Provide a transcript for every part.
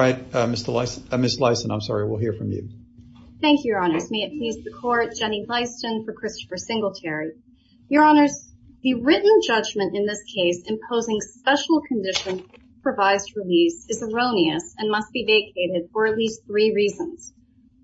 All right, Miss Lyson, I'm sorry, we'll hear from you. Thank you, your honors. May it please the court, Jenny Lyson for Christopher Singletary. Your honors, the written judgment in this case imposing special conditions for revised release is erroneous and must be vacated for at least three reasons.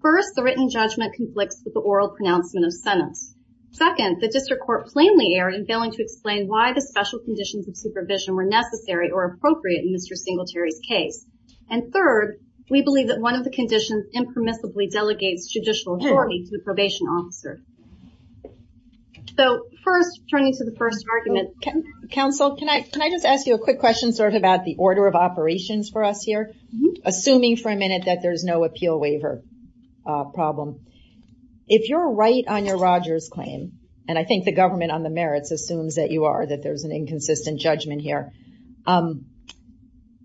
First, the written judgment conflicts with the oral pronouncement of sentence. Second, the district court plainly erred in failing to explain why the special conditions of supervision were necessary or appropriate in Mr. Singletary's case. And third, we believe that one of the conditions impermissibly delegates judicial authority to the probation officer. So first, turning to the first argument, counsel, can I just ask you a quick question sort of about the order of operations for us here? Assuming for a minute that there's no appeal waiver problem. If you're right on your Rogers claim, and I think the government on the merits assumes that you are, that there's an inconsistent judgment here,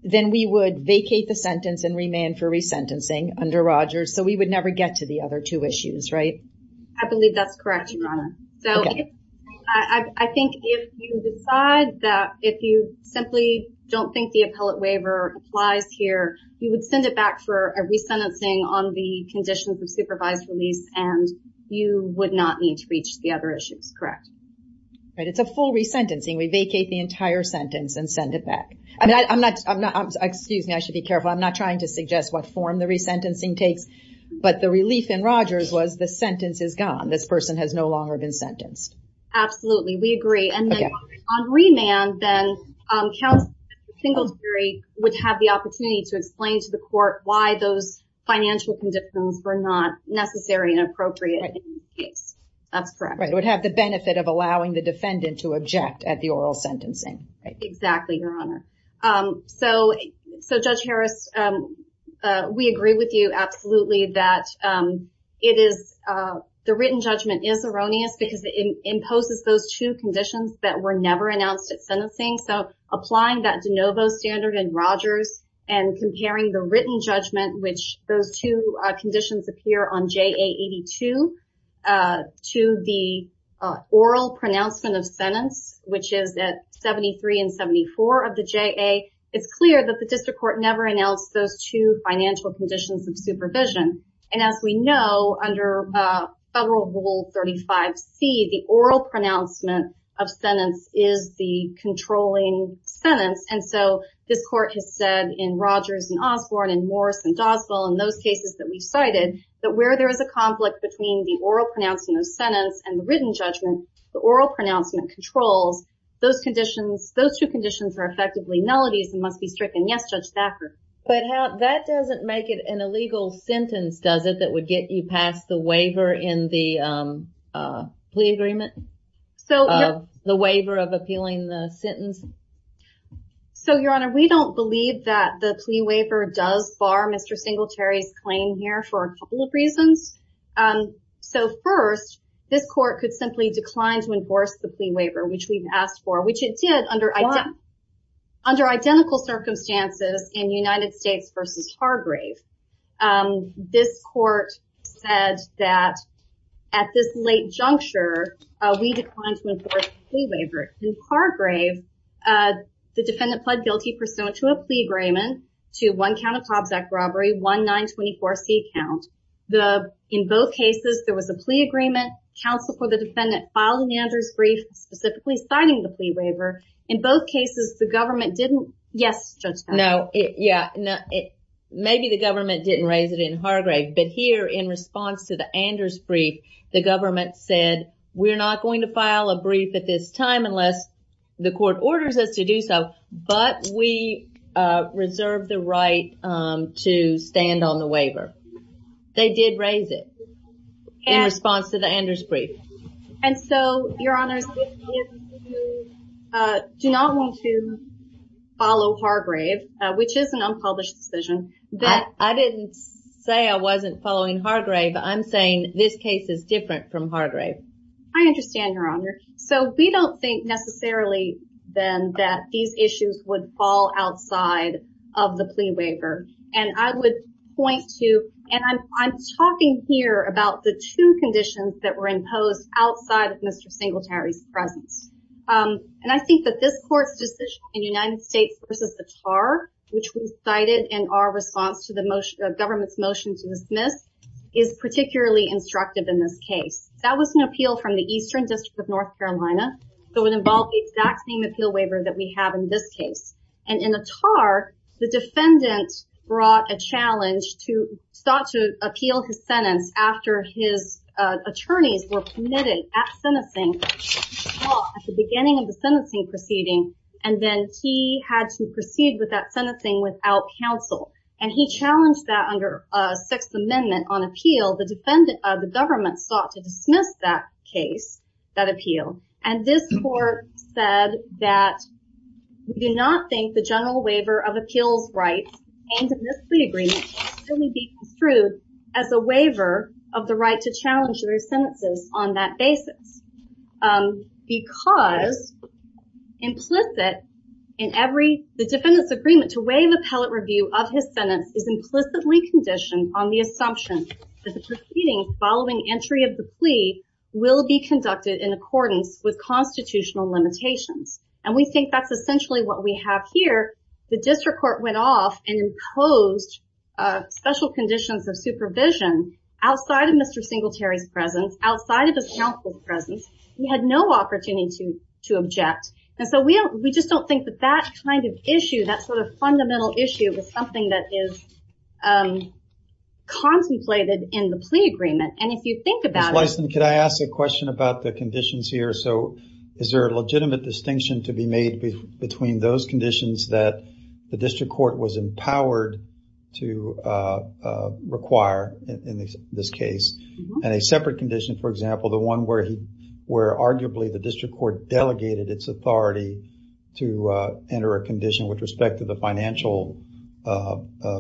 then we would vacate the sentence and remain for resentencing under Rogers so we would never get to the other two issues, right? I believe that's correct, your honor. So I think if you decide that if you simply don't think the appellate waiver applies here, you would send it back for a resentencing on the conditions of supervised release and you would not need to reach the other issues, correct? Right, it's a full resentencing. We vacate the entire sentence and send it back. I'm not, excuse me, I should be careful. I'm not trying to suggest what form the resentencing takes, but the relief in Rogers was the sentence is gone. This person has no longer been sentenced. Absolutely, we agree. And then on remand then, counsel Singlesbury would have the opportunity to explain to the court why those financial conditions were not necessary and appropriate in the case. That's correct. It would have the benefit of allowing the defendant to object at the oral sentencing, right? Exactly, your honor. So Judge Harris, we agree with you absolutely that it is, the written judgment is erroneous because it imposes those two conditions that were never announced at sentencing. So applying that DeNovo standard in Rogers and comparing the written judgment, which those two conditions appear on JA 82 to the oral pronouncement of sentence, which is at 73 and 74 of the JA, it's clear that the district court never announced those two financial conditions of supervision. And as we know, under federal rule 35C, the oral pronouncement of sentence is the controlling sentence. And so this court has said in Rogers and Osborne and Morris and Doswell and those cases that we've cited, that where there is a conflict between the oral pronouncement of sentence and the written judgment, the oral pronouncement controls those conditions. Those two conditions are effectively nullities and must be stricken. Yes, Judge Thacker. But that doesn't make it an illegal sentence, does it? That would get you past the waiver in the plea agreement? So the waiver of appealing the sentence. So your honor, we don't believe that the plea waiver does bar Mr. Singletary's claim here for a couple of reasons. So first, this court could simply decline to enforce the plea waiver, which we've asked for, which it did under identical circumstances in United States versus Hargrave. This court said that at this late juncture, we declined to enforce the plea waiver. In Hargrave, the defendant pled guilty pursuant to a plea agreement to one count of Cobb's Act robbery, one 924C count. In both cases, there was a plea agreement. Counsel for the defendant filed an Anders brief specifically citing the plea waiver. In both cases, the government didn't. Yes, Judge Thacker. No, yeah. Maybe the government didn't raise it in Hargrave, but here in response to the Anders brief, the government said, we're not going to file a brief at this time unless the court orders us to do so, but we reserve the right to stand on the waiver. They did raise it in response to the Anders brief. And so, Your Honors, we do not want to follow Hargrave, which is an unpublished decision. I didn't say I wasn't following Hargrave. I'm saying this case is different from Hargrave. I understand, Your Honor. So we don't think necessarily then that these issues would fall outside of the plea waiver, and I would point to, and I'm talking here about the two conditions that were imposed outside of Mr. Singletary's presence. And I think that this court's decision in United States v. Attar, which was cited in our response to the government's motion to dismiss, is particularly instructive in this case. That was an appeal from the Eastern District of North Carolina, so it involved the exact same appeal waiver that we have in this case. And in Attar, the defendant brought a challenge to start to appeal his sentence after his attorneys were permitted at sentencing, at the beginning of the sentencing proceeding, and then he had to proceed with that sentencing without counsel. And he challenged that under Sixth Amendment on appeal. The government sought to dismiss that case, that appeal. And this court said that we do not think the general waiver of appeals rights in this plea agreement should be construed as a waiver of the right to challenge their sentences on that basis. Because implicit in every, the defendant's agreement to waive appellate review of his sentence is implicitly conditioned on the assumption that the proceeding following entry of the plea will be conducted in accordance with constitutional limitations. And we think that's essentially what we have here. The district court went off and imposed special conditions of supervision outside of Mr. Singletary's presence, outside of his counsel's presence. He had no opportunity to object. And so we just don't think that that kind of issue, that sort of fundamental issue is something that is contemplated in the plea agreement. And if you think about it- Ms. Blyston, could I ask a question about the conditions here? So is there a legitimate distinction to be made between those conditions that the district court was empowered to require in this case? And a separate condition, for example, the one where arguably the district court delegated its authority to enter a condition with respect to the financial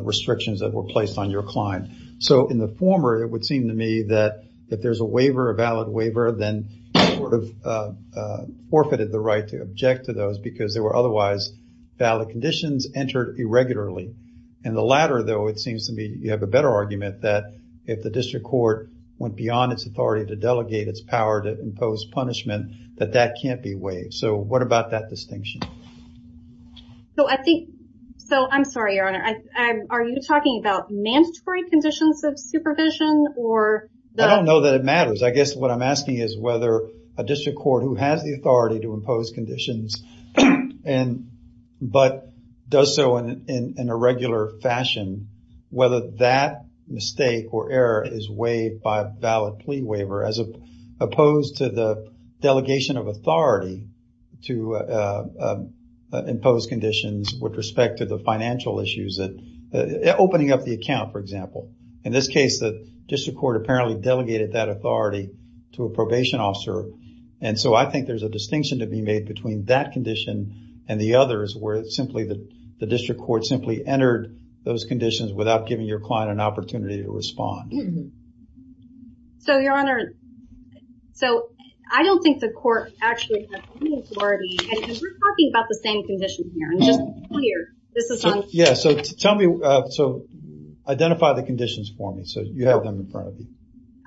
restrictions that were placed on your client. So in the former, it would seem to me that if there's a waiver, a valid waiver, then it sort of forfeited the right to object to those because there were otherwise valid conditions entered irregularly. In the latter, though, it seems to me you have a better argument that if the district court went beyond its authority to delegate its power to impose punishment, that that can't be waived. So what about that distinction? So I think, so I'm sorry, Your Honor. Are you talking about mandatory conditions of supervision or the- I don't know that it matters. I guess what I'm asking is whether a district court who has the authority to impose conditions but does so in a regular fashion, whether that mistake or error is waived by a valid plea waiver as opposed to the delegation of authority to impose conditions with respect to the financial issues, opening up the account, for example. In this case, the district court apparently delegated that authority to a probation officer. And so I think there's a distinction to be made between that condition and the others where it's simply the district court simply entered those conditions without giving your client an opportunity to respond. So, Your Honor, so I don't think the court actually has any authority. And we're talking about the same condition here. And just here, this is on- Yeah, so tell me, so identify the conditions for me. So you have them in front of you.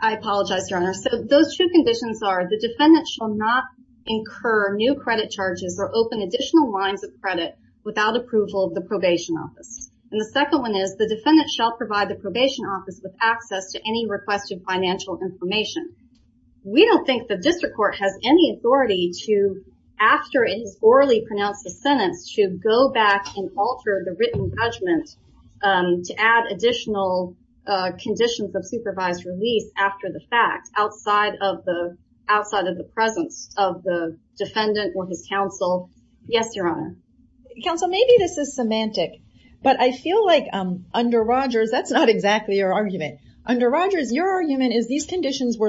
I apologize, Your Honor. So those two conditions are the defendant shall not incur new credit charges or open additional lines of credit without approval of the probation office. And the second one is the defendant shall provide the probation office with access to any requested financial information. We don't think the district court has any authority to, after it is orally pronounced a sentence, to go back and alter the written judgment to add additional conditions of supervised release after the fact outside of the presence of the defendant or his counsel. Yes, Your Honor. Counsel, maybe this is semantic, but I feel like under Rogers, that's not exactly your argument. Under Rogers, your argument is these conditions They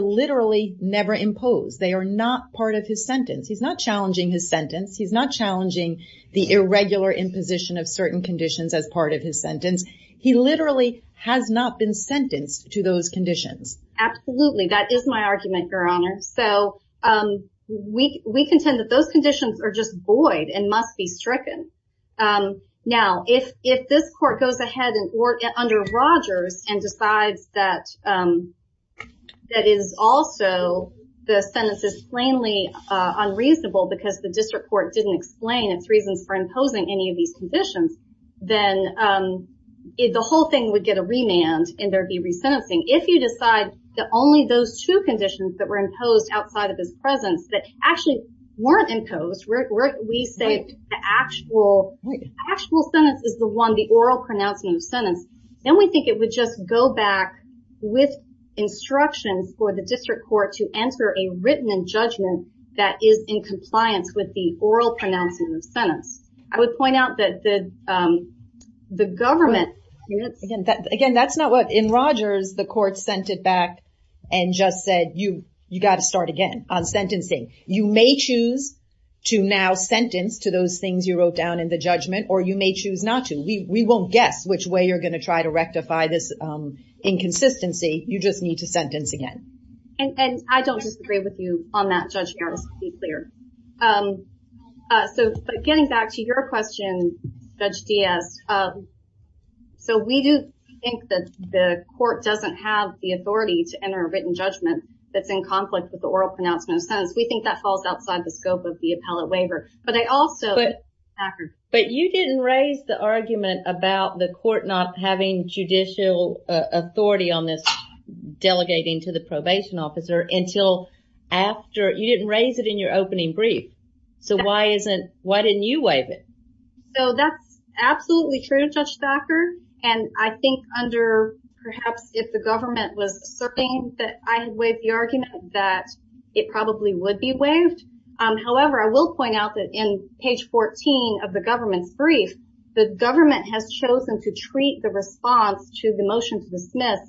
are not part of his sentence. He's not challenging his sentence. He's not challenging the irregular imposition of certain conditions as part of his sentence. He literally has not been sentenced to those conditions. Absolutely, that is my argument, Your Honor. So we contend that those conditions are just void and must be stricken. Now, if this court goes ahead under Rogers and decides that is also, the sentence is plainly unreasonable because the district court didn't explain its reasons for imposing any of these conditions, then the whole thing would get a remand and there'd be resentencing. If you decide that only those two conditions that were imposed outside of his presence that actually weren't imposed, we say the actual sentence is the one, the oral pronouncement of sentence, then we think it would just go back with instructions for the district court to enter a written judgment that is in compliance with the oral pronouncement of sentence. I would point out that the government... Again, that's not what in Rogers, the court sent it back and just said, you got to start again on sentencing. You may choose to now sentence to those things you wrote down in the judgment, or you may choose not to. We won't guess which way you're gonna try to rectify this inconsistency. You just need to sentence again. And I don't disagree with you on that, Judge Harris, to be clear. But getting back to your question, Judge Diaz, so we do think that the court doesn't have the authority to enter a written judgment that's in conflict with the oral pronouncement of sentence. We think that falls outside the scope of the appellate waiver but I also... But you didn't raise the argument about the court not having judicial authority on this delegating to the probation officer until after... You didn't raise it in your opening brief. So why didn't you waive it? So that's absolutely true, Judge Thacker. And I think under perhaps if the government was asserting that I had waived the argument that it probably would be waived. However, I will point out that in page 14 of the government's brief, the government has chosen to treat the response to the motion to dismiss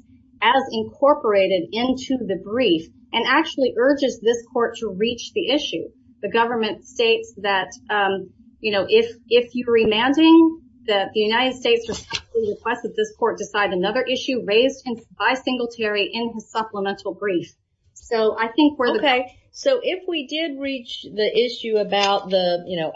as incorporated into the brief and actually urges this court to reach the issue. The government states that if you're remanding, that the United States requests that this court decide another issue raised by Singletary in his supplemental brief. So I think we're... Okay, so if we did reach the issue about the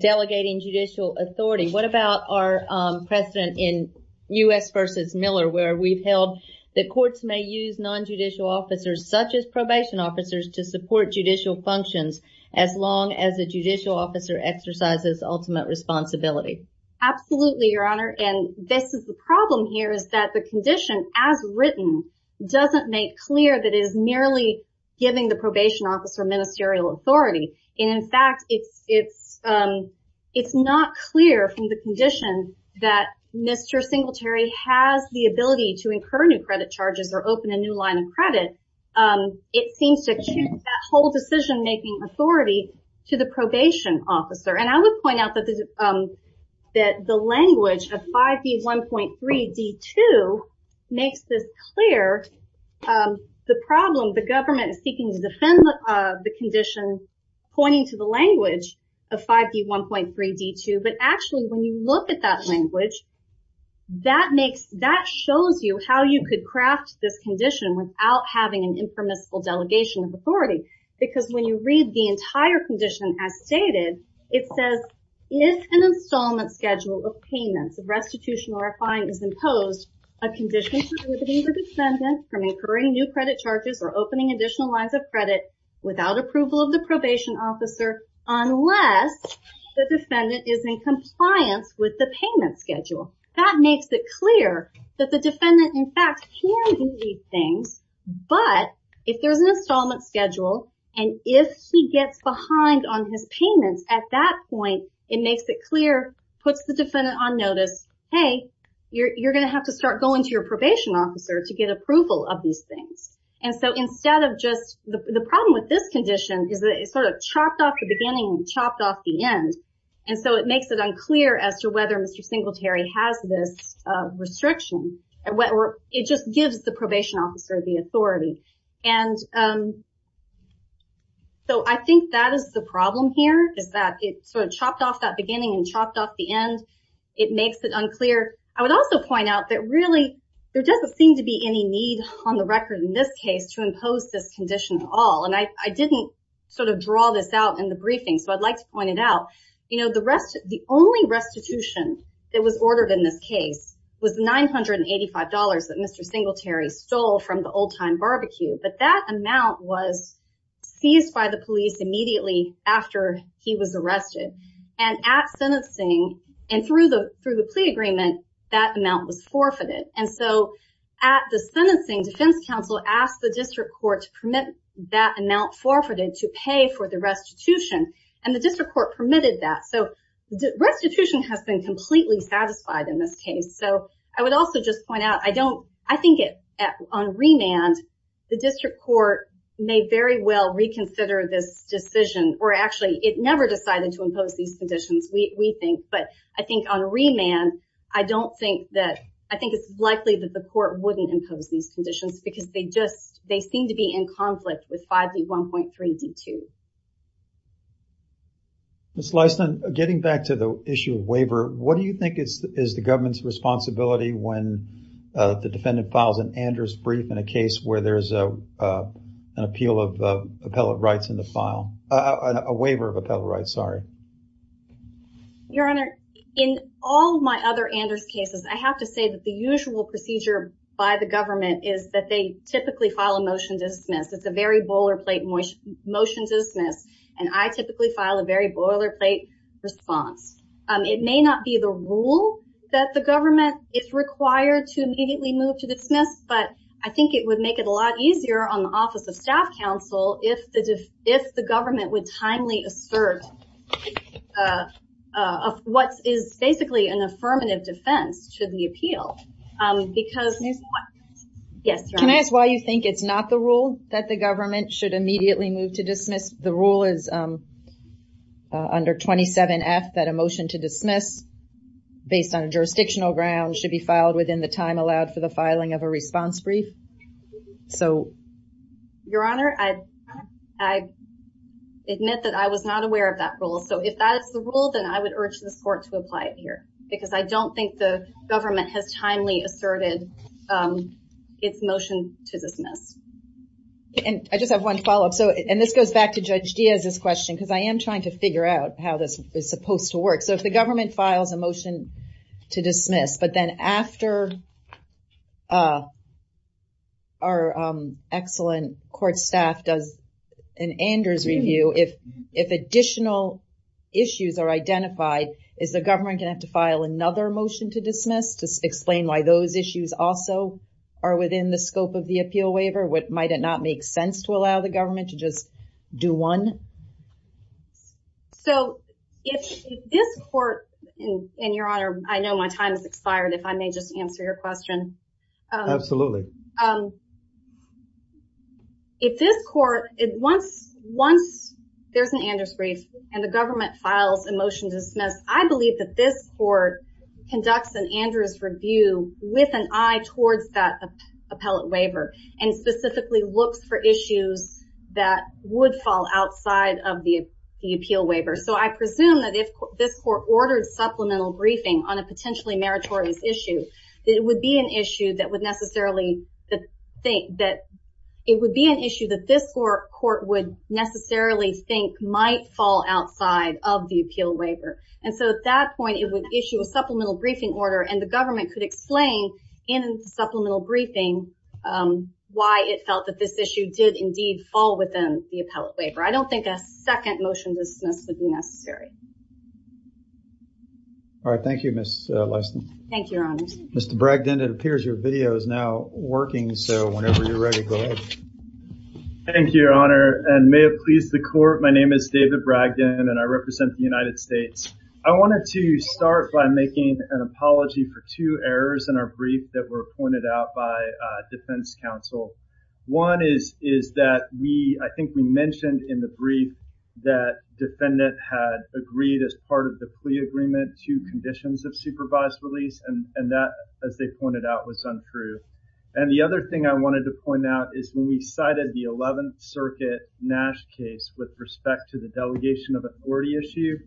delegating judicial authority, what about our precedent in U.S. versus Miller where we've held that courts may use non-judicial officers such as probation officers to support judicial functions as long as a judicial officer exercises ultimate responsibility? Absolutely, Your Honor. And this is the problem here is that the condition as written doesn't make clear that it is merely giving the probation officer ministerial authority. And in fact, it's not clear from the condition that Mr. Singletary has the ability to incur new credit charges or open a new line of credit. It seems to change that whole decision-making authority to the probation officer. And I would point out that the language of 5B1.3 D2 The problem, the government is seeking to defend the condition pointing to the language of 5B1.3 D2, but actually when you look at that language, that shows you how you could craft this condition without having an impermissible delegation of authority. Because when you read the entire condition as stated, it says, if an installment schedule of payments of restitution or a fine is imposed, a condition prohibiting the defendant from incurring new credit charges or opening additional lines of credit without approval of the probation officer, unless the defendant is in compliance with the payment schedule. That makes it clear that the defendant in fact can do these things, but if there's an installment schedule, and if he gets behind on his payments at that point, it makes it clear, puts the defendant on notice. Hey, you're gonna have to start going to your probation officer to get approval of these things. And so instead of just, the problem with this condition is that it's sort of chopped off the beginning and chopped off the end. And so it makes it unclear as to whether Mr. Singletary has this restriction. It just gives the probation officer the authority. And so I think that is the problem here, is that it's sort of chopped off that beginning and chopped off the end, it makes it unclear. I would also point out that really, there doesn't seem to be any need on the record in this case to impose this condition at all. And I didn't sort of draw this out in the briefing, so I'd like to point it out. The only restitution that was ordered in this case was $985 that Mr. Singletary stole from the old time barbecue, but that amount was seized by the police immediately after he was arrested. And at sentencing and through the plea agreement, that amount was forfeited. And so at the sentencing, defense counsel asked the district court to permit that amount forfeited to pay for the restitution and the district court permitted that. So restitution has been completely satisfied in this case. So I would also just point out, I think on remand, the district court may very well reconsider this decision or actually it never decided to impose these conditions, we think, but I think on remand, I don't think that, I think it's likely that the court wouldn't impose these conditions because they just, they seem to be in conflict with 5D1.3D2. Ms. Lyston, getting back to the issue of waiver, what do you think is the government's responsibility when the defendant files an Anders brief in a case where there's an appeal of appellate rights in the file, a waiver of appellate rights, sorry. Your Honor, in all my other Anders cases, I have to say that the usual procedure by the government is that they typically file a motion to dismiss. It's a very boilerplate motion to dismiss and I typically file a very boilerplate response. It may not be the rule that the government is required to immediately move to dismiss, but I think it would make it a lot easier on the office of staff counsel if the government would timely assert what is basically an affirmative defense to the appeal. Because, yes, Your Honor. Can I ask why you think it's not the rule that the government should immediately move to dismiss? The rule is under 27F that a motion to dismiss based on jurisdictional grounds should be filed within the time allowed for the filing of a response brief. So... Your Honor, I admit that I was not aware of that rule. So if that's the rule, then I would urge this court to apply it here. Because I don't think the government has timely asserted its motion to dismiss. And I just have one follow-up. So, and this goes back to Judge Diaz's question, because I am trying to figure out how this is supposed to work. So if the government files a motion to dismiss, but then after our excellent court staff does an Andrews review, if additional issues are identified, is the government gonna have to file another motion to dismiss to explain why those issues also are within the scope of the appeal waiver? What, might it not make sense So if this court, and Your Honor, I know my time has expired if I may just answer your question. Absolutely. If this court, once there's an Andrews brief and the government files a motion to dismiss, I believe that this court conducts an Andrews review with an eye towards that appellate waiver and specifically looks for issues that would fall outside of the appeal waiver. So I presume that if this court ordered supplemental briefing on a potentially meritorious issue, that it would be an issue that would necessarily think, that it would be an issue that this court would necessarily think might fall outside of the appeal waiver. And so at that point, it would issue a supplemental briefing order and the government could explain in supplemental briefing why it felt that this issue did indeed fall within the appellate waiver. I don't think a second motion dismissed would be necessary. All right, thank you, Ms. Lesten. Thank you, Your Honor. Mr. Bragdon, it appears your video is now working. So whenever you're ready, go ahead. Thank you, Your Honor. And may it please the court, my name is David Bragdon and I represent the United States. I wanted to start by making an apology for two errors in our brief that were pointed out by defense counsel. One is that we, I think we mentioned in the brief that defendant had agreed as part of the plea agreement to conditions of supervised release and that as they pointed out was untrue. And the other thing I wanted to point out is when we cited the 11th Circuit Nash case with respect to the delegation of authority issue,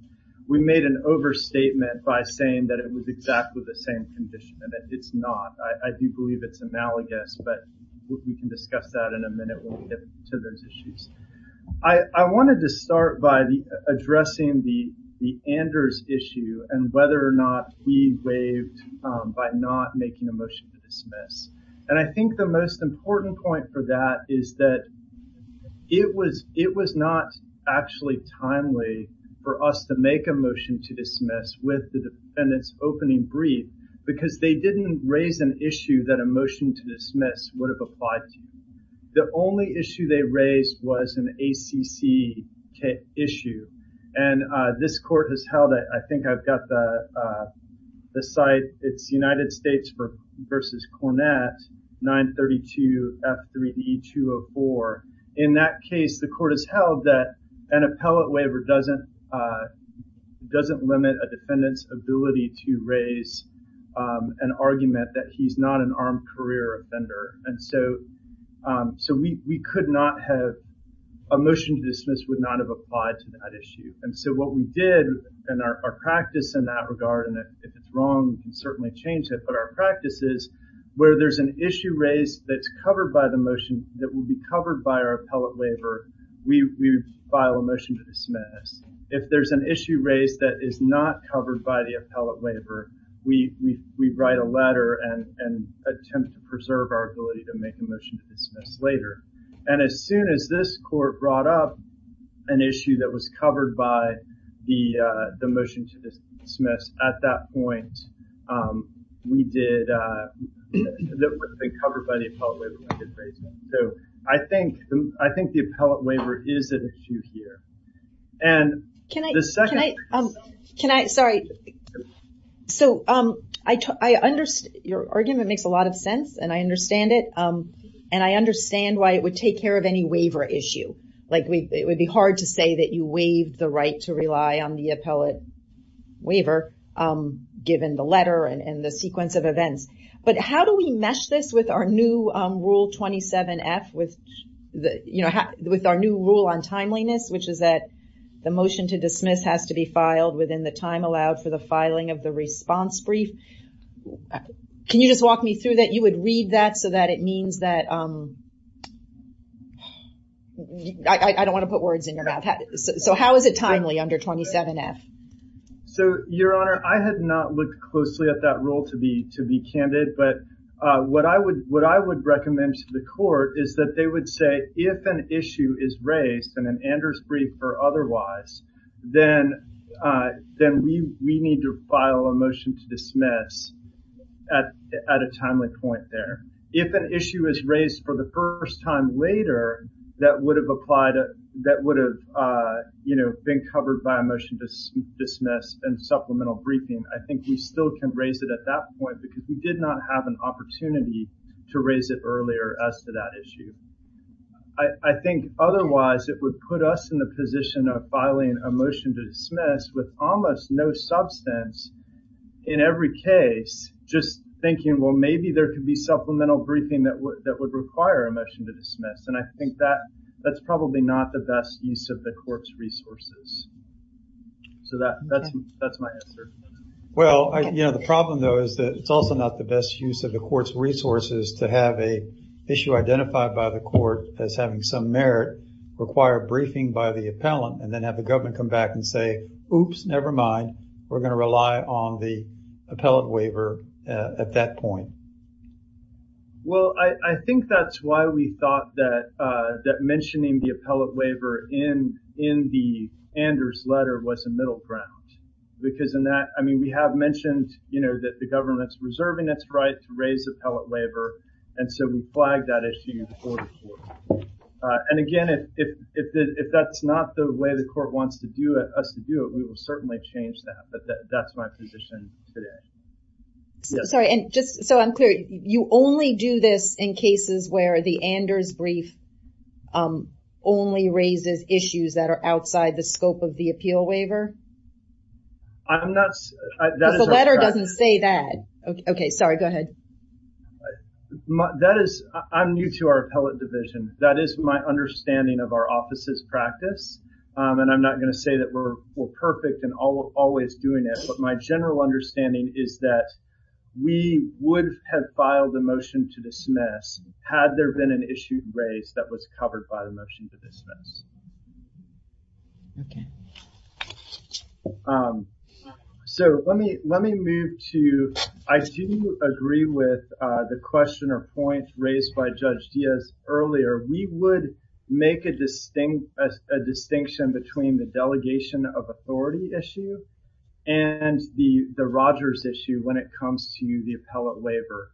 we made an overstatement by saying that it was exactly the same condition and that it's not. I do believe it's analogous, but we can discuss that in a minute when we get to those issues. I wanted to start by addressing the Anders issue and whether or not he waived by not making a motion to dismiss. And I think the most important point for that is that it was not actually timely for us to make a motion to dismiss with the defendant's opening brief because they didn't raise an issue that a motion to dismiss would have applied to. The only issue they raised was an ACC issue. And this court has held it. I think I've got the site. It's United States versus Cornett, 932 F3E204. In that case, the court has held that an appellate waiver doesn't limit a defendant's ability to raise an argument that he's not an armed career offender. And so we could not have, a motion to dismiss would not have applied to that issue. And so what we did in our practice in that regard, and if it's wrong, we can certainly change it, but our practice is where there's an issue raised that's covered by the motion that will be covered by our appellate waiver, we file a motion to dismiss. If there's an issue raised that is not covered by the appellate waiver, we write a letter and attempt to preserve our ability to make a motion to dismiss later. And as soon as this court brought up an issue that was covered by the motion to dismiss, at that point, we did, that would have been covered by the appellate waiver when we did raise one. So I think the appellate waiver is an issue here. And the second- Can I, sorry, so I understand, your argument makes a lot of sense and I understand it. And I understand why it would take care of any waiver issue. Like it would be hard to say that you waived the right to rely on the appellate waiver, given the letter and the sequence of events. But how do we mesh this with our new rule 27F, with our new rule on timeliness, which is that the motion to dismiss has to be filed within the time allowed for the filing of the response brief. Can you just walk me through that? You would read that so that it means that, I don't want to put words in your mouth. So how is it timely under 27F? So your honor, I had not looked closely at that rule to be candid. But what I would recommend to the court is that they would say, if an issue is raised in an Anders brief or otherwise, then we need to file a motion to dismiss at a timely point there. If an issue is raised for the first time later, that would have applied, that would have been covered by a motion to dismiss and supplemental briefing, I think we still can raise it at that point because we did not have an opportunity to raise it earlier as to that issue. I think otherwise it would put us in the position of filing a motion to dismiss with almost no substance in every case, just thinking, well, maybe there could be supplemental briefing that would require a motion to dismiss. And I think that's probably not the best use of the court's resources. So that's my answer. Well, the problem though, is that it's also not the best use of the court's resources to have a issue identified by the court as having some merit, require briefing by the appellant and then have the government come back and say, oops, nevermind, we're gonna rely on the appellate waiver at that point. Well, I think that's why we thought that mentioning the appellate waiver in the Anders letter was a middle ground because in that, I mean, we have mentioned, that the government's reserving its right to raise appellate waiver. And so we flagged that issue for the court. And again, if that's not the way the court wants us to do it, we will certainly change that, but that's my position today. Sorry, and just so I'm clear, you only do this in cases where the Anders brief only raises issues that are outside the scope of the appeal waiver? I'm not, that is our strategy. The letter doesn't say that. Okay, sorry, go ahead. That is, I'm new to our appellate division. That is my understanding of our office's practice. And I'm not gonna say that we're perfect and always doing it. But my general understanding is that we would have filed a motion to dismiss had there been an issue raised that was covered by the motion to dismiss. Okay. So let me move to, I do agree with the question or point raised by Judge Diaz earlier. We would make a distinction between the delegation of authority issue and the Rogers issue when it comes to the appellate waiver.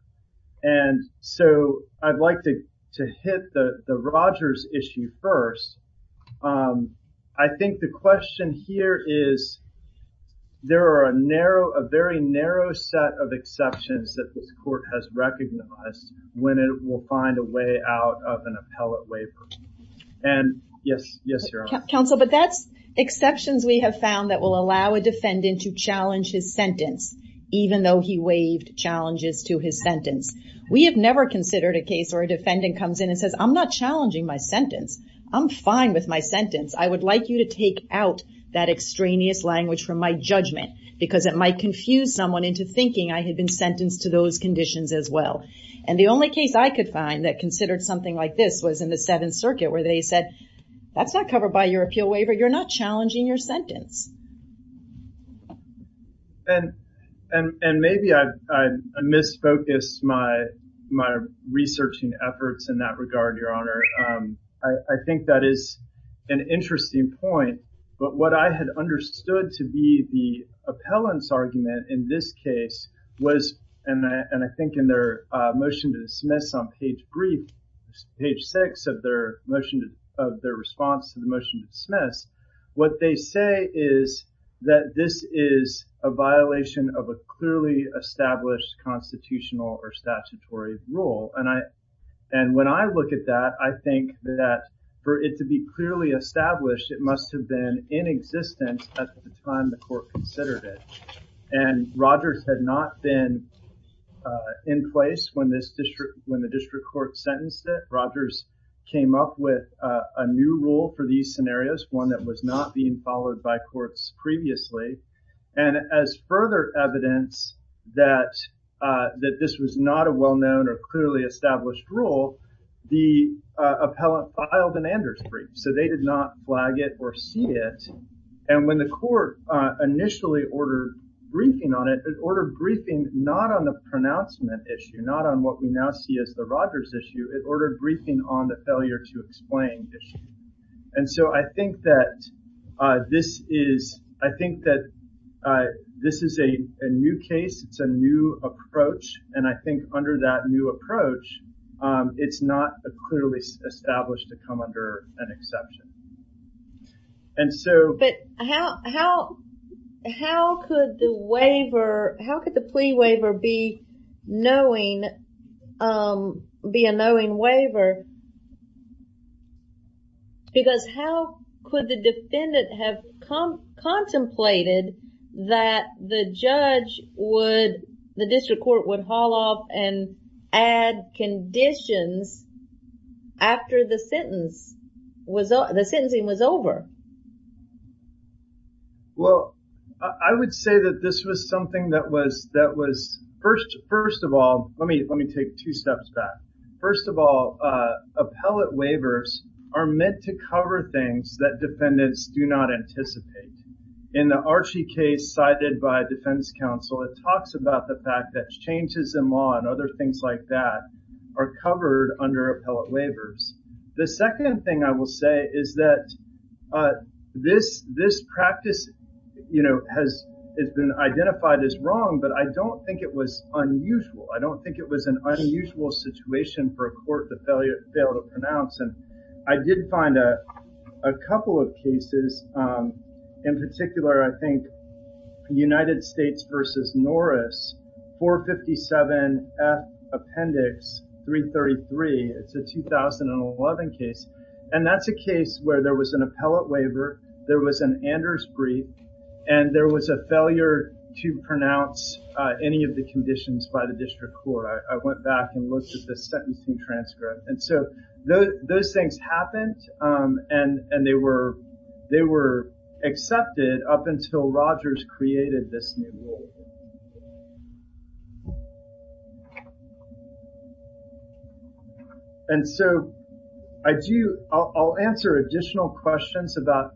And so I'd like to hit the Rogers issue first. I think the question is, the question here is there are a narrow, a very narrow set of exceptions that this court has recognized when it will find a way out of an appellate waiver. And yes, yes, Your Honor. Counsel, but that's exceptions we have found that will allow a defendant to challenge his sentence, even though he waived challenges to his sentence. We have never considered a case where a defendant comes in and says, I'm not challenging my sentence. I'm fine with my sentence. I would like you to take out that extraneous language from my judgment because it might confuse someone into thinking I had been sentenced to those conditions as well. And the only case I could find that considered something like this was in the Seventh Circuit where they said, that's not covered by your appeal waiver. You're not challenging your sentence. And maybe I misfocused my researching efforts in that regard, Your Honor. I think that is an interesting point, but what I had understood to be the appellant's argument in this case was, and I think in their motion to dismiss on page three, page six of their motion, of their response to the motion to dismiss, what they say is that this is a violation of a clearly established constitutional or statutory rule. And when I look at that, I think that for it to be clearly established, it must have been in existence at the time the court considered it. And Rogers had not been in place when the district court sentenced it. Rogers came up with a new rule for these scenarios, one that was not being followed by courts previously. And as further evidence that this was not a well-known or clearly established rule, the appellant filed an Anders brief. So they did not flag it or see it. And when the court initially ordered briefing on it, it ordered briefing not on the pronouncement issue, not on what we now see as the Rogers issue, it ordered briefing on the failure to explain issue. And so I think that this is, I think that this is a new case. It's a new approach. And I think under that new approach, it's not a clearly established to come under an exception. And so- But how could the waiver, how could the plea waiver be knowing, be a knowing waiver? Because how could the defendant have contemplated that the judge would, the district court would haul off and add conditions after the sentence was, the sentencing was over? Well, I would say that this was something that was, that was first of all, let me take two steps back. First of all, appellate waivers are meant to cover things that defendants do not anticipate. In the Archie case cited by defense counsel, it talks about the fact that changes in law and other things like that are covered under appellate waivers. The second thing I will say is that this practice, has been identified as wrong, but I don't think it was unusual. I don't think it was an unusual situation for a court to fail to pronounce. And I did find a couple of cases in particular, where I think United States versus Norris, 457 F Appendix 333, it's a 2011 case. And that's a case where there was an appellate waiver, there was an Anders brief, and there was a failure to pronounce any of the conditions by the district court. I went back and looked at the sentencing transcript. And so those things happened, and they were accepted up until Rogers created this new rule. And so I'll answer additional questions about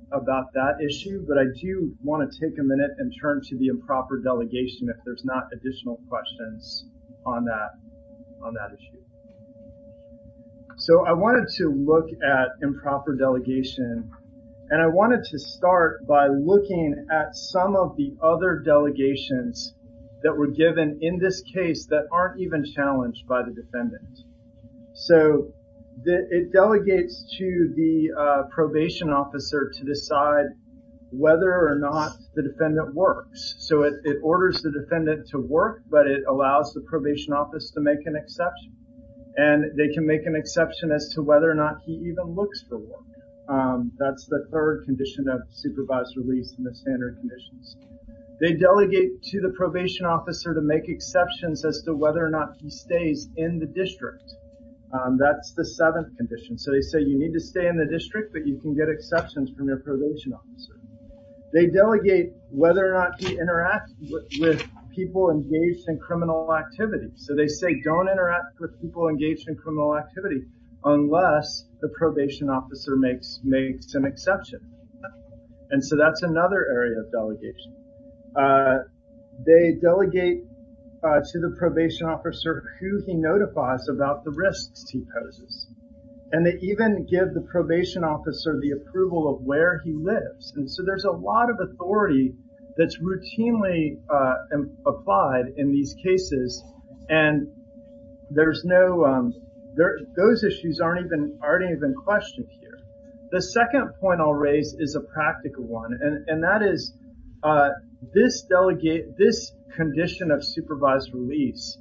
that issue, but I do wanna take a minute and turn to the improper delegation if there's not additional questions on that issue. So I wanted to look at improper delegation, and I wanted to start by looking at some of the other delegations that were given in this case that aren't even challenged by the defendant. So it delegates to the probation officer to decide whether or not the defendant works. So it orders the defendant to work, but it allows the probation office to make an exception. And they can make an exception as to whether or not he even looks for work. That's the third condition of supervised release in the standard conditions. They delegate to the probation officer to make exceptions as to whether or not he stays in the district. That's the seventh condition. So they say, you need to stay in the district, but you can get exceptions from your probation officer. They delegate whether or not he interacts with people engaged in criminal activity. So they say, don't interact with people engaged in criminal activity unless the probation officer makes an exception. And so that's another area of delegation. They delegate to the probation officer who he notifies about the risks he poses. And they even give the probation officer And so there's a lot of authority that's routinely applied in these cases. And those issues aren't even questioned here. The second point I'll raise is a practical one. And that is this condition of supervised release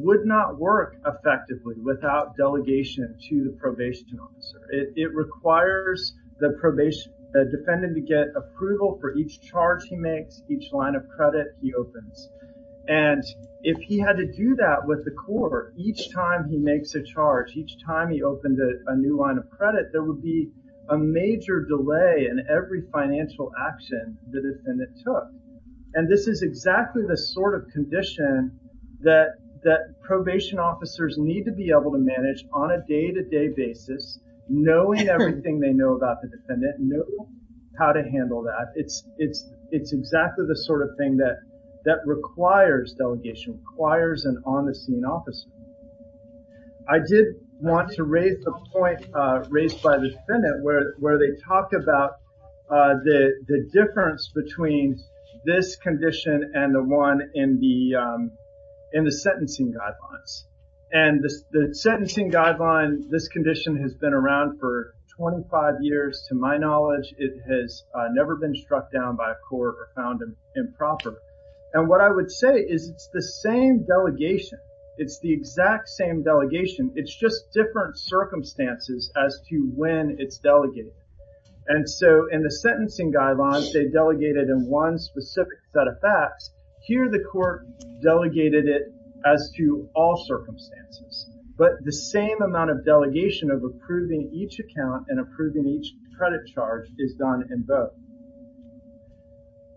would not work effectively without delegation to the probation officer. It requires the defendant to get approval for each charge he makes, each line of credit he opens. And if he had to do that with the court, each time he makes a charge, each time he opened a new line of credit, there would be a major delay in every financial action the defendant took. And this is exactly the sort of condition that probation officers need to be able to manage on a day-to-day basis, knowing everything they know about the defendant, know how to handle that. It's exactly the sort of thing that requires delegation, requires an on-the-scene officer. I did want to raise the point raised by the defendant where they talk about the difference between this condition and the one in the sentencing guidelines. And the sentencing guideline, this condition has been around for 25 years. To my knowledge, it has never been struck down by a court or found improper. And what I would say is it's the same delegation. It's the exact same delegation. It's just different circumstances as to when it's delegated. And so in the sentencing guidelines, they delegated in one specific set of facts. Here, the court delegated it as to all circumstances, but the same amount of delegation of approving each account and approving each credit charge is done in both.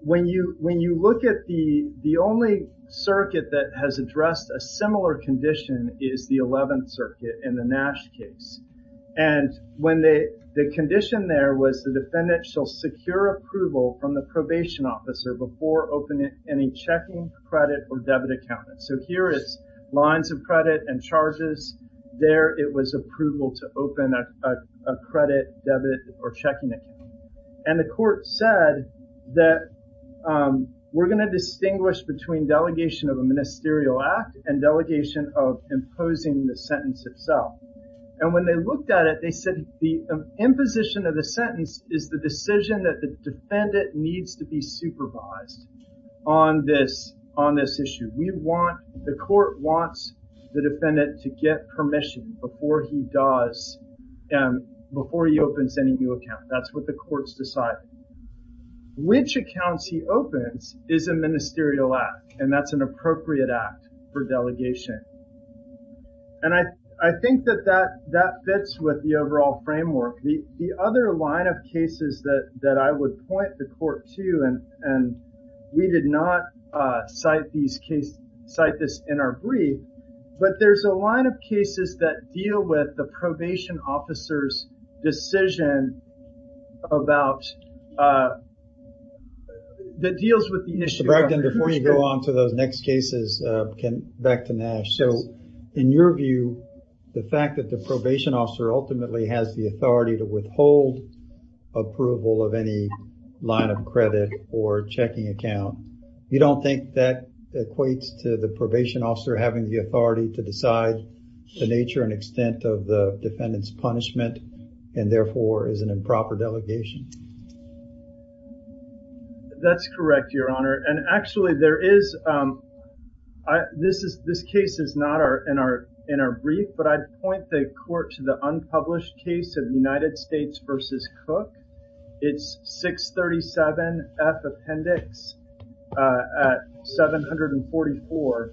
When you look at the only circuit that has addressed a similar condition is the 11th Circuit in the Nash case. And the condition there was the defendant shall secure approval from the probation officer before opening any checking, credit, or debit account. So here is lines of credit and charges. There, it was approval to open a credit, debit, or checking account. And the court said that we're gonna distinguish between delegation of a ministerial act and delegation of imposing the sentence itself. And when they looked at it, they said the imposition of the sentence is the decision that the defendant needs to be supervised on this issue. The court wants the defendant to get permission before he does, before he opens any new account. That's what the court's decided. Which accounts he opens is a ministerial act, and that's an appropriate act for delegation. And I think that that fits with the overall framework. The other line of cases that I would point the court to, and we did not cite this in our brief, but there's a line of cases that deal with the probation officer's decision that deals with the issue. So Bragdon, before you go on to those next cases, back to Nash. So in your view, the fact that the probation officer ultimately has the authority to withhold approval of any line of credit or checking account, you don't think that equates to the probation officer having the authority to decide the nature and extent of the defendant's punishment and therefore is an improper delegation? That's correct, Your Honor. And actually there is, this case is not in our brief, but I'd point the court to the unpublished case of United States versus Cook. It's 637 F Appendix at 744.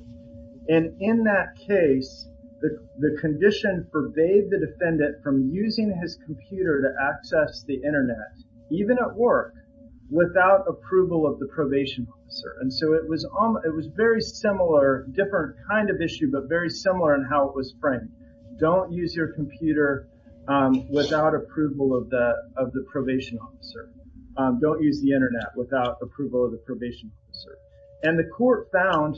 And in that case, the condition forbade the defendant from using his computer to access the internet, even at work, without approval of the probation officer. And so it was very similar, different kind of issue, but very similar in how it was framed. Don't use your computer without approval of the probation officer. Don't use the internet without approval of the probation officer. And the court found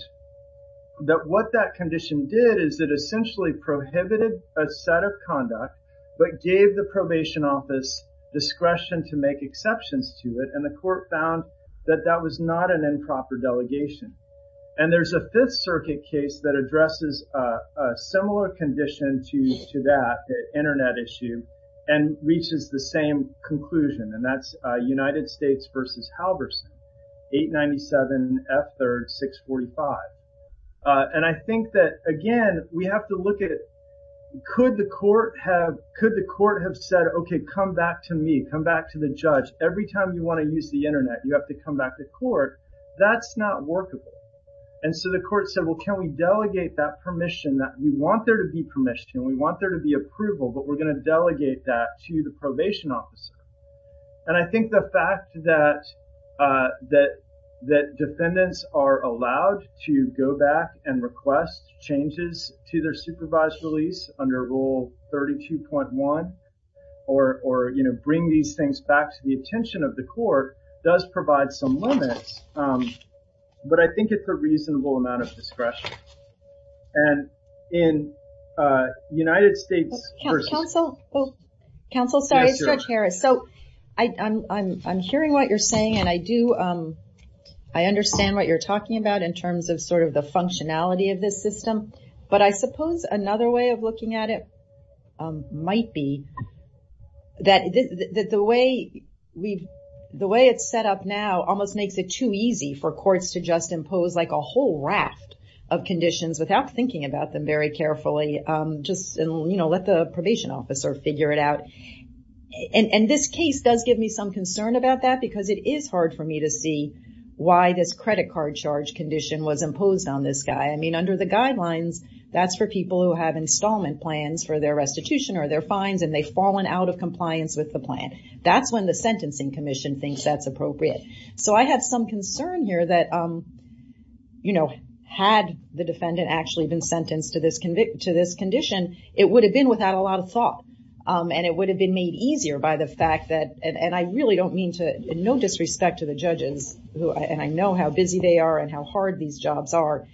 that what that condition did is it essentially prohibited a set of conduct, but gave the probation office discretion to make exceptions to it. And the court found that that was not an improper delegation. And there's a Fifth Circuit case that addresses a similar condition to that internet issue and reaches the same conclusion. And that's United States versus Halverson, 897 F Third, 645. And I think that, again, we have to look at, could the court have said, okay, come back to me, come back to the judge. Every time you wanna use the internet, you have to come back to court. That's not workable. And so the court said, well, can we delegate that permission that we want there to be permission, we want there to be approval, but we're gonna delegate that to the probation officer. And I think the fact that defendants are allowed to go back and request changes to their supervised release under rule 32.1, or bring these things back to the attention of the court does provide some limits. But I think it's a reasonable amount of discretion. And in United States versus- Council, oh, Council, sorry, it's Judge Harris. So I'm hearing what you're saying, and I do, I understand what you're talking about in terms of sort of the functionality of this system. But I suppose another way of looking at it might be that the way it's set up now almost makes it too easy for courts to just impose like a whole raft of conditions without thinking about them very carefully, just let the probation officer figure it out. And this case does give me some concern about that because it is hard for me to see why this credit card charge condition was imposed on this guy. I mean, under the guidelines, that's for people who have installment plans for their restitution or their fines, and they've fallen out of compliance with the plan. That's when the Sentencing Commission thinks that's appropriate. So I have some concern here that, you know, had the defendant actually been sentenced to this condition, it would have been without a lot of thought, and it would have been made easier by the fact that, and I really don't mean to, no disrespect to the judges, and I know how busy they are and how hard these jobs are,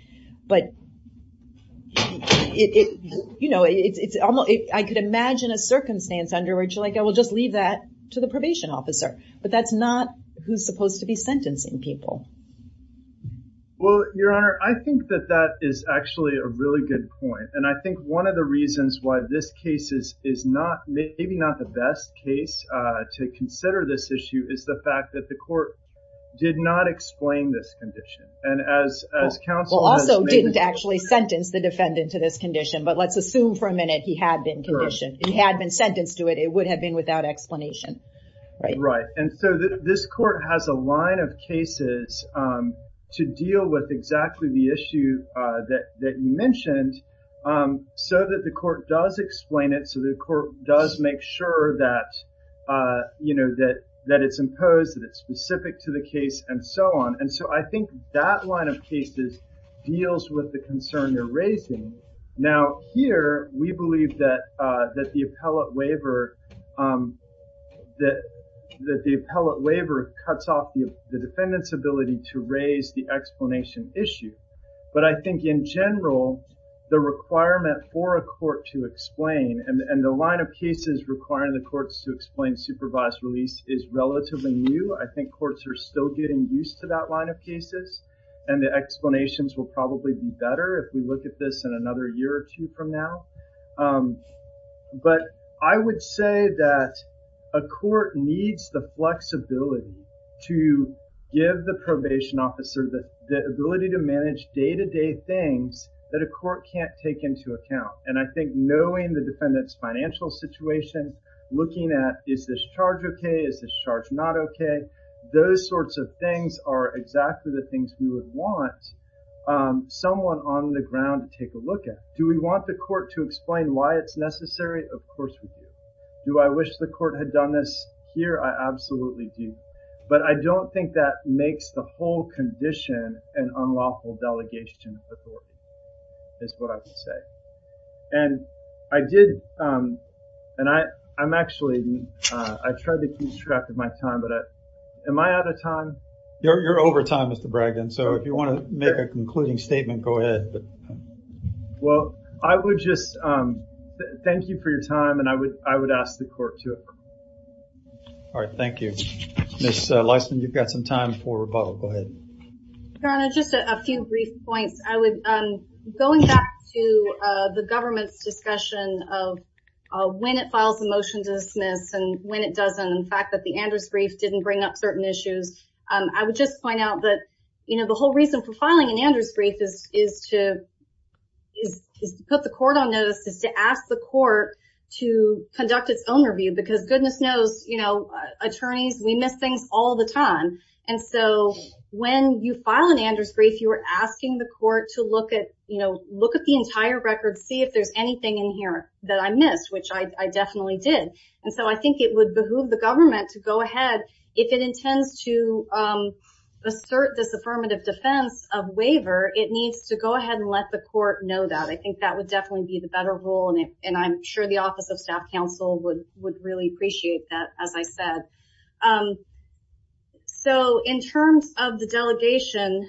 but it, you know, it's almost, I could imagine a circumstance under which like, I will just leave that to the probation officer. But that's not who's supposed to be sentencing people. Well, Your Honor, I think that that is actually a really good point. And I think one of the reasons why this case is not, maybe not the best case to consider this issue is the fact that the court did not explain this condition. And as counsel has made it clear- Well, also didn't actually sentence the defendant to this condition, but let's assume for a minute he had been conditioned. He had been sentenced to it. It would have been without explanation, right? And so this court has a line of cases to deal with exactly the issue that you mentioned so that the court does explain it, so the court does make sure that, you know, that it's imposed, that it's specific to the case, and so on. And so I think that line of cases deals with the concern you're raising. Now, here, we believe that the appellate waiver cuts off the defendant's ability to raise the explanation issue. But I think in general, the requirement for a court to explain, and the line of cases requiring the courts to explain supervised release is relatively new. I think courts are still getting used to that line of cases, and the explanations will probably be better But I would say that, you know, I would say that a court needs the flexibility to give the probation officer the ability to manage day-to-day things that a court can't take into account. And I think knowing the defendant's financial situation, looking at, is this charge okay? Is this charge not okay? Those sorts of things are exactly the things we would want someone on the ground to take a look at. Do we want the court to explain why it's necessary? Of course we do. Do I wish the court had done this here? I absolutely do. But I don't think that makes the whole condition an unlawful delegation of authority, is what I would say. And I did, and I'm actually, I tried to keep track of my time, but am I out of time? You're over time, Mr. Bragdon, so if you want to make a concluding statement, go ahead. Well, I would just thank you for your time, and I would ask the court to. All right, thank you. Ms. Leisman, you've got some time for rebuttal, go ahead. Your Honor, just a few brief points. I would, going back to the government's discussion of when it files a motion to dismiss and when it doesn't, and the fact that the Anders brief didn't bring up certain issues, I would just point out that the whole reason for filing an Anders brief is to put the court on notice, is to ask the court to conduct its own review, because goodness knows, attorneys, we miss things all the time. And so when you file an Anders brief, you are asking the court to look at the entire record, see if there's anything in here that I missed, which I definitely did. And so I think it would behoove the government to go ahead, if it intends to assert this affirmative defense of waiver, it needs to go ahead and let the court know that. I think that would definitely be the better rule, and I'm sure the Office of Staff Counsel would really appreciate that, as I said. So in terms of the delegation,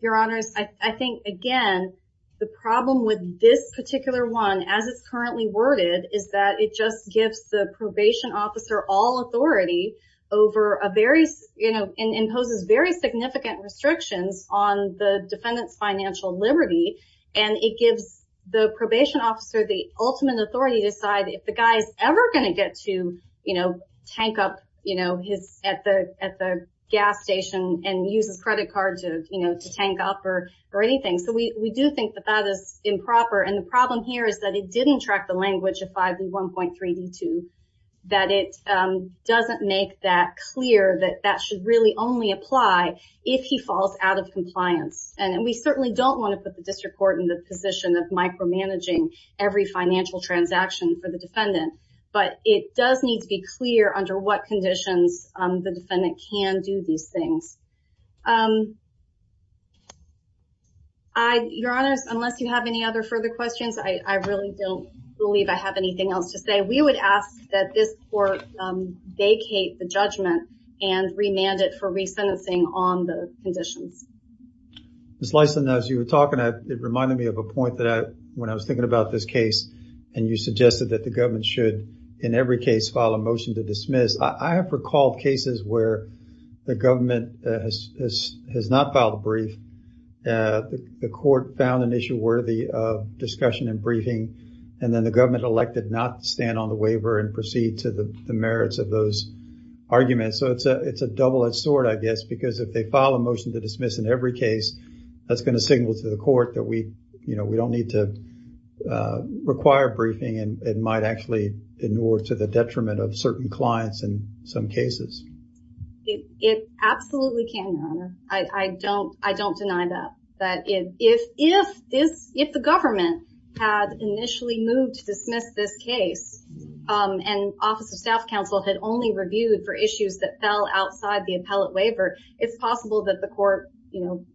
Your Honors, I think, again, the problem with this particular one, as it's currently worded, is that it just gives the probation officer all authority over a very, you know, and imposes very significant restrictions on the defendant's financial liberty, and it gives the probation officer the ultimate authority to decide if the guy's ever gonna get to, you know, tank up, you know, his, at the gas station and use his credit card to, you know, to tank up or anything. So we do think that that is improper, and the problem here is that it didn't track the language of 5B1.3d2, that it doesn't make that clear that that should really only apply if he falls out of compliance, and we certainly don't wanna put the district court in the position of micromanaging every financial transaction for the defendant, but it does need to be clear under what conditions the defendant can do these things. Your Honors, unless you have any other further questions, I really don't believe I have anything else to say. We would ask that this court vacate the judgment and remand it for resentencing on the conditions. Ms. Lyson, as you were talking, it reminded me of a point that I, when I was thinking about this case, and you suggested that the government should, in every case, file a motion to dismiss. I have recalled cases where the government has not filed a brief. The court found an issue worthy of discussion and briefing, and then the government elected not to stand on the waiver and proceed to the merits of those arguments, so it's a double-edged sword, I guess, because if they file a motion to dismiss in every case, that's gonna signal to the court that we don't need to require briefing, and it might actually inure to the detriment of certain clients in some cases. It absolutely can, Your Honor. I don't deny that, that if the government had initially moved to dismiss this case, and Office of Staff Counsel had only reviewed for issues that fell outside the appellate waiver, it's possible that the court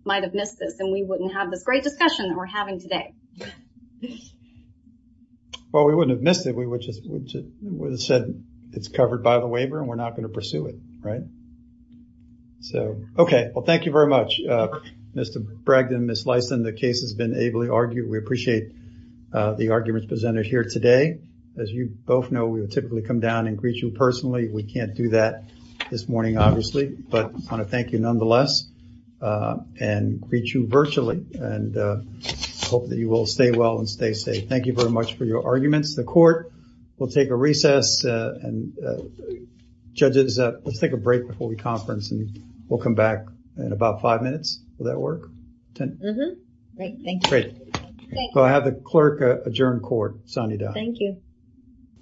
might have missed this, and we wouldn't have this great discussion that we're having today. Well, we wouldn't have missed it. We would have said it's covered by the waiver, and we're not gonna pursue it, right? So, okay, well, thank you very much, Mr. Bragdon, Ms. Lyson. The case has been ably argued. We appreciate the arguments presented here today. As you both know, we would typically come down and greet you personally. We can't do that this morning, obviously, but I wanna thank you nonetheless, and greet you virtually, and hope that you will stay well and stay safe. Thank you very much for your arguments. The court will take a recess, and judges, let's take a break before we conference, and we'll come back in about five minutes. Will that work? 10? Mm-hmm. Great, thank you. Great. Thank you. So I have the clerk adjourn court. Sonny Da. Thank you.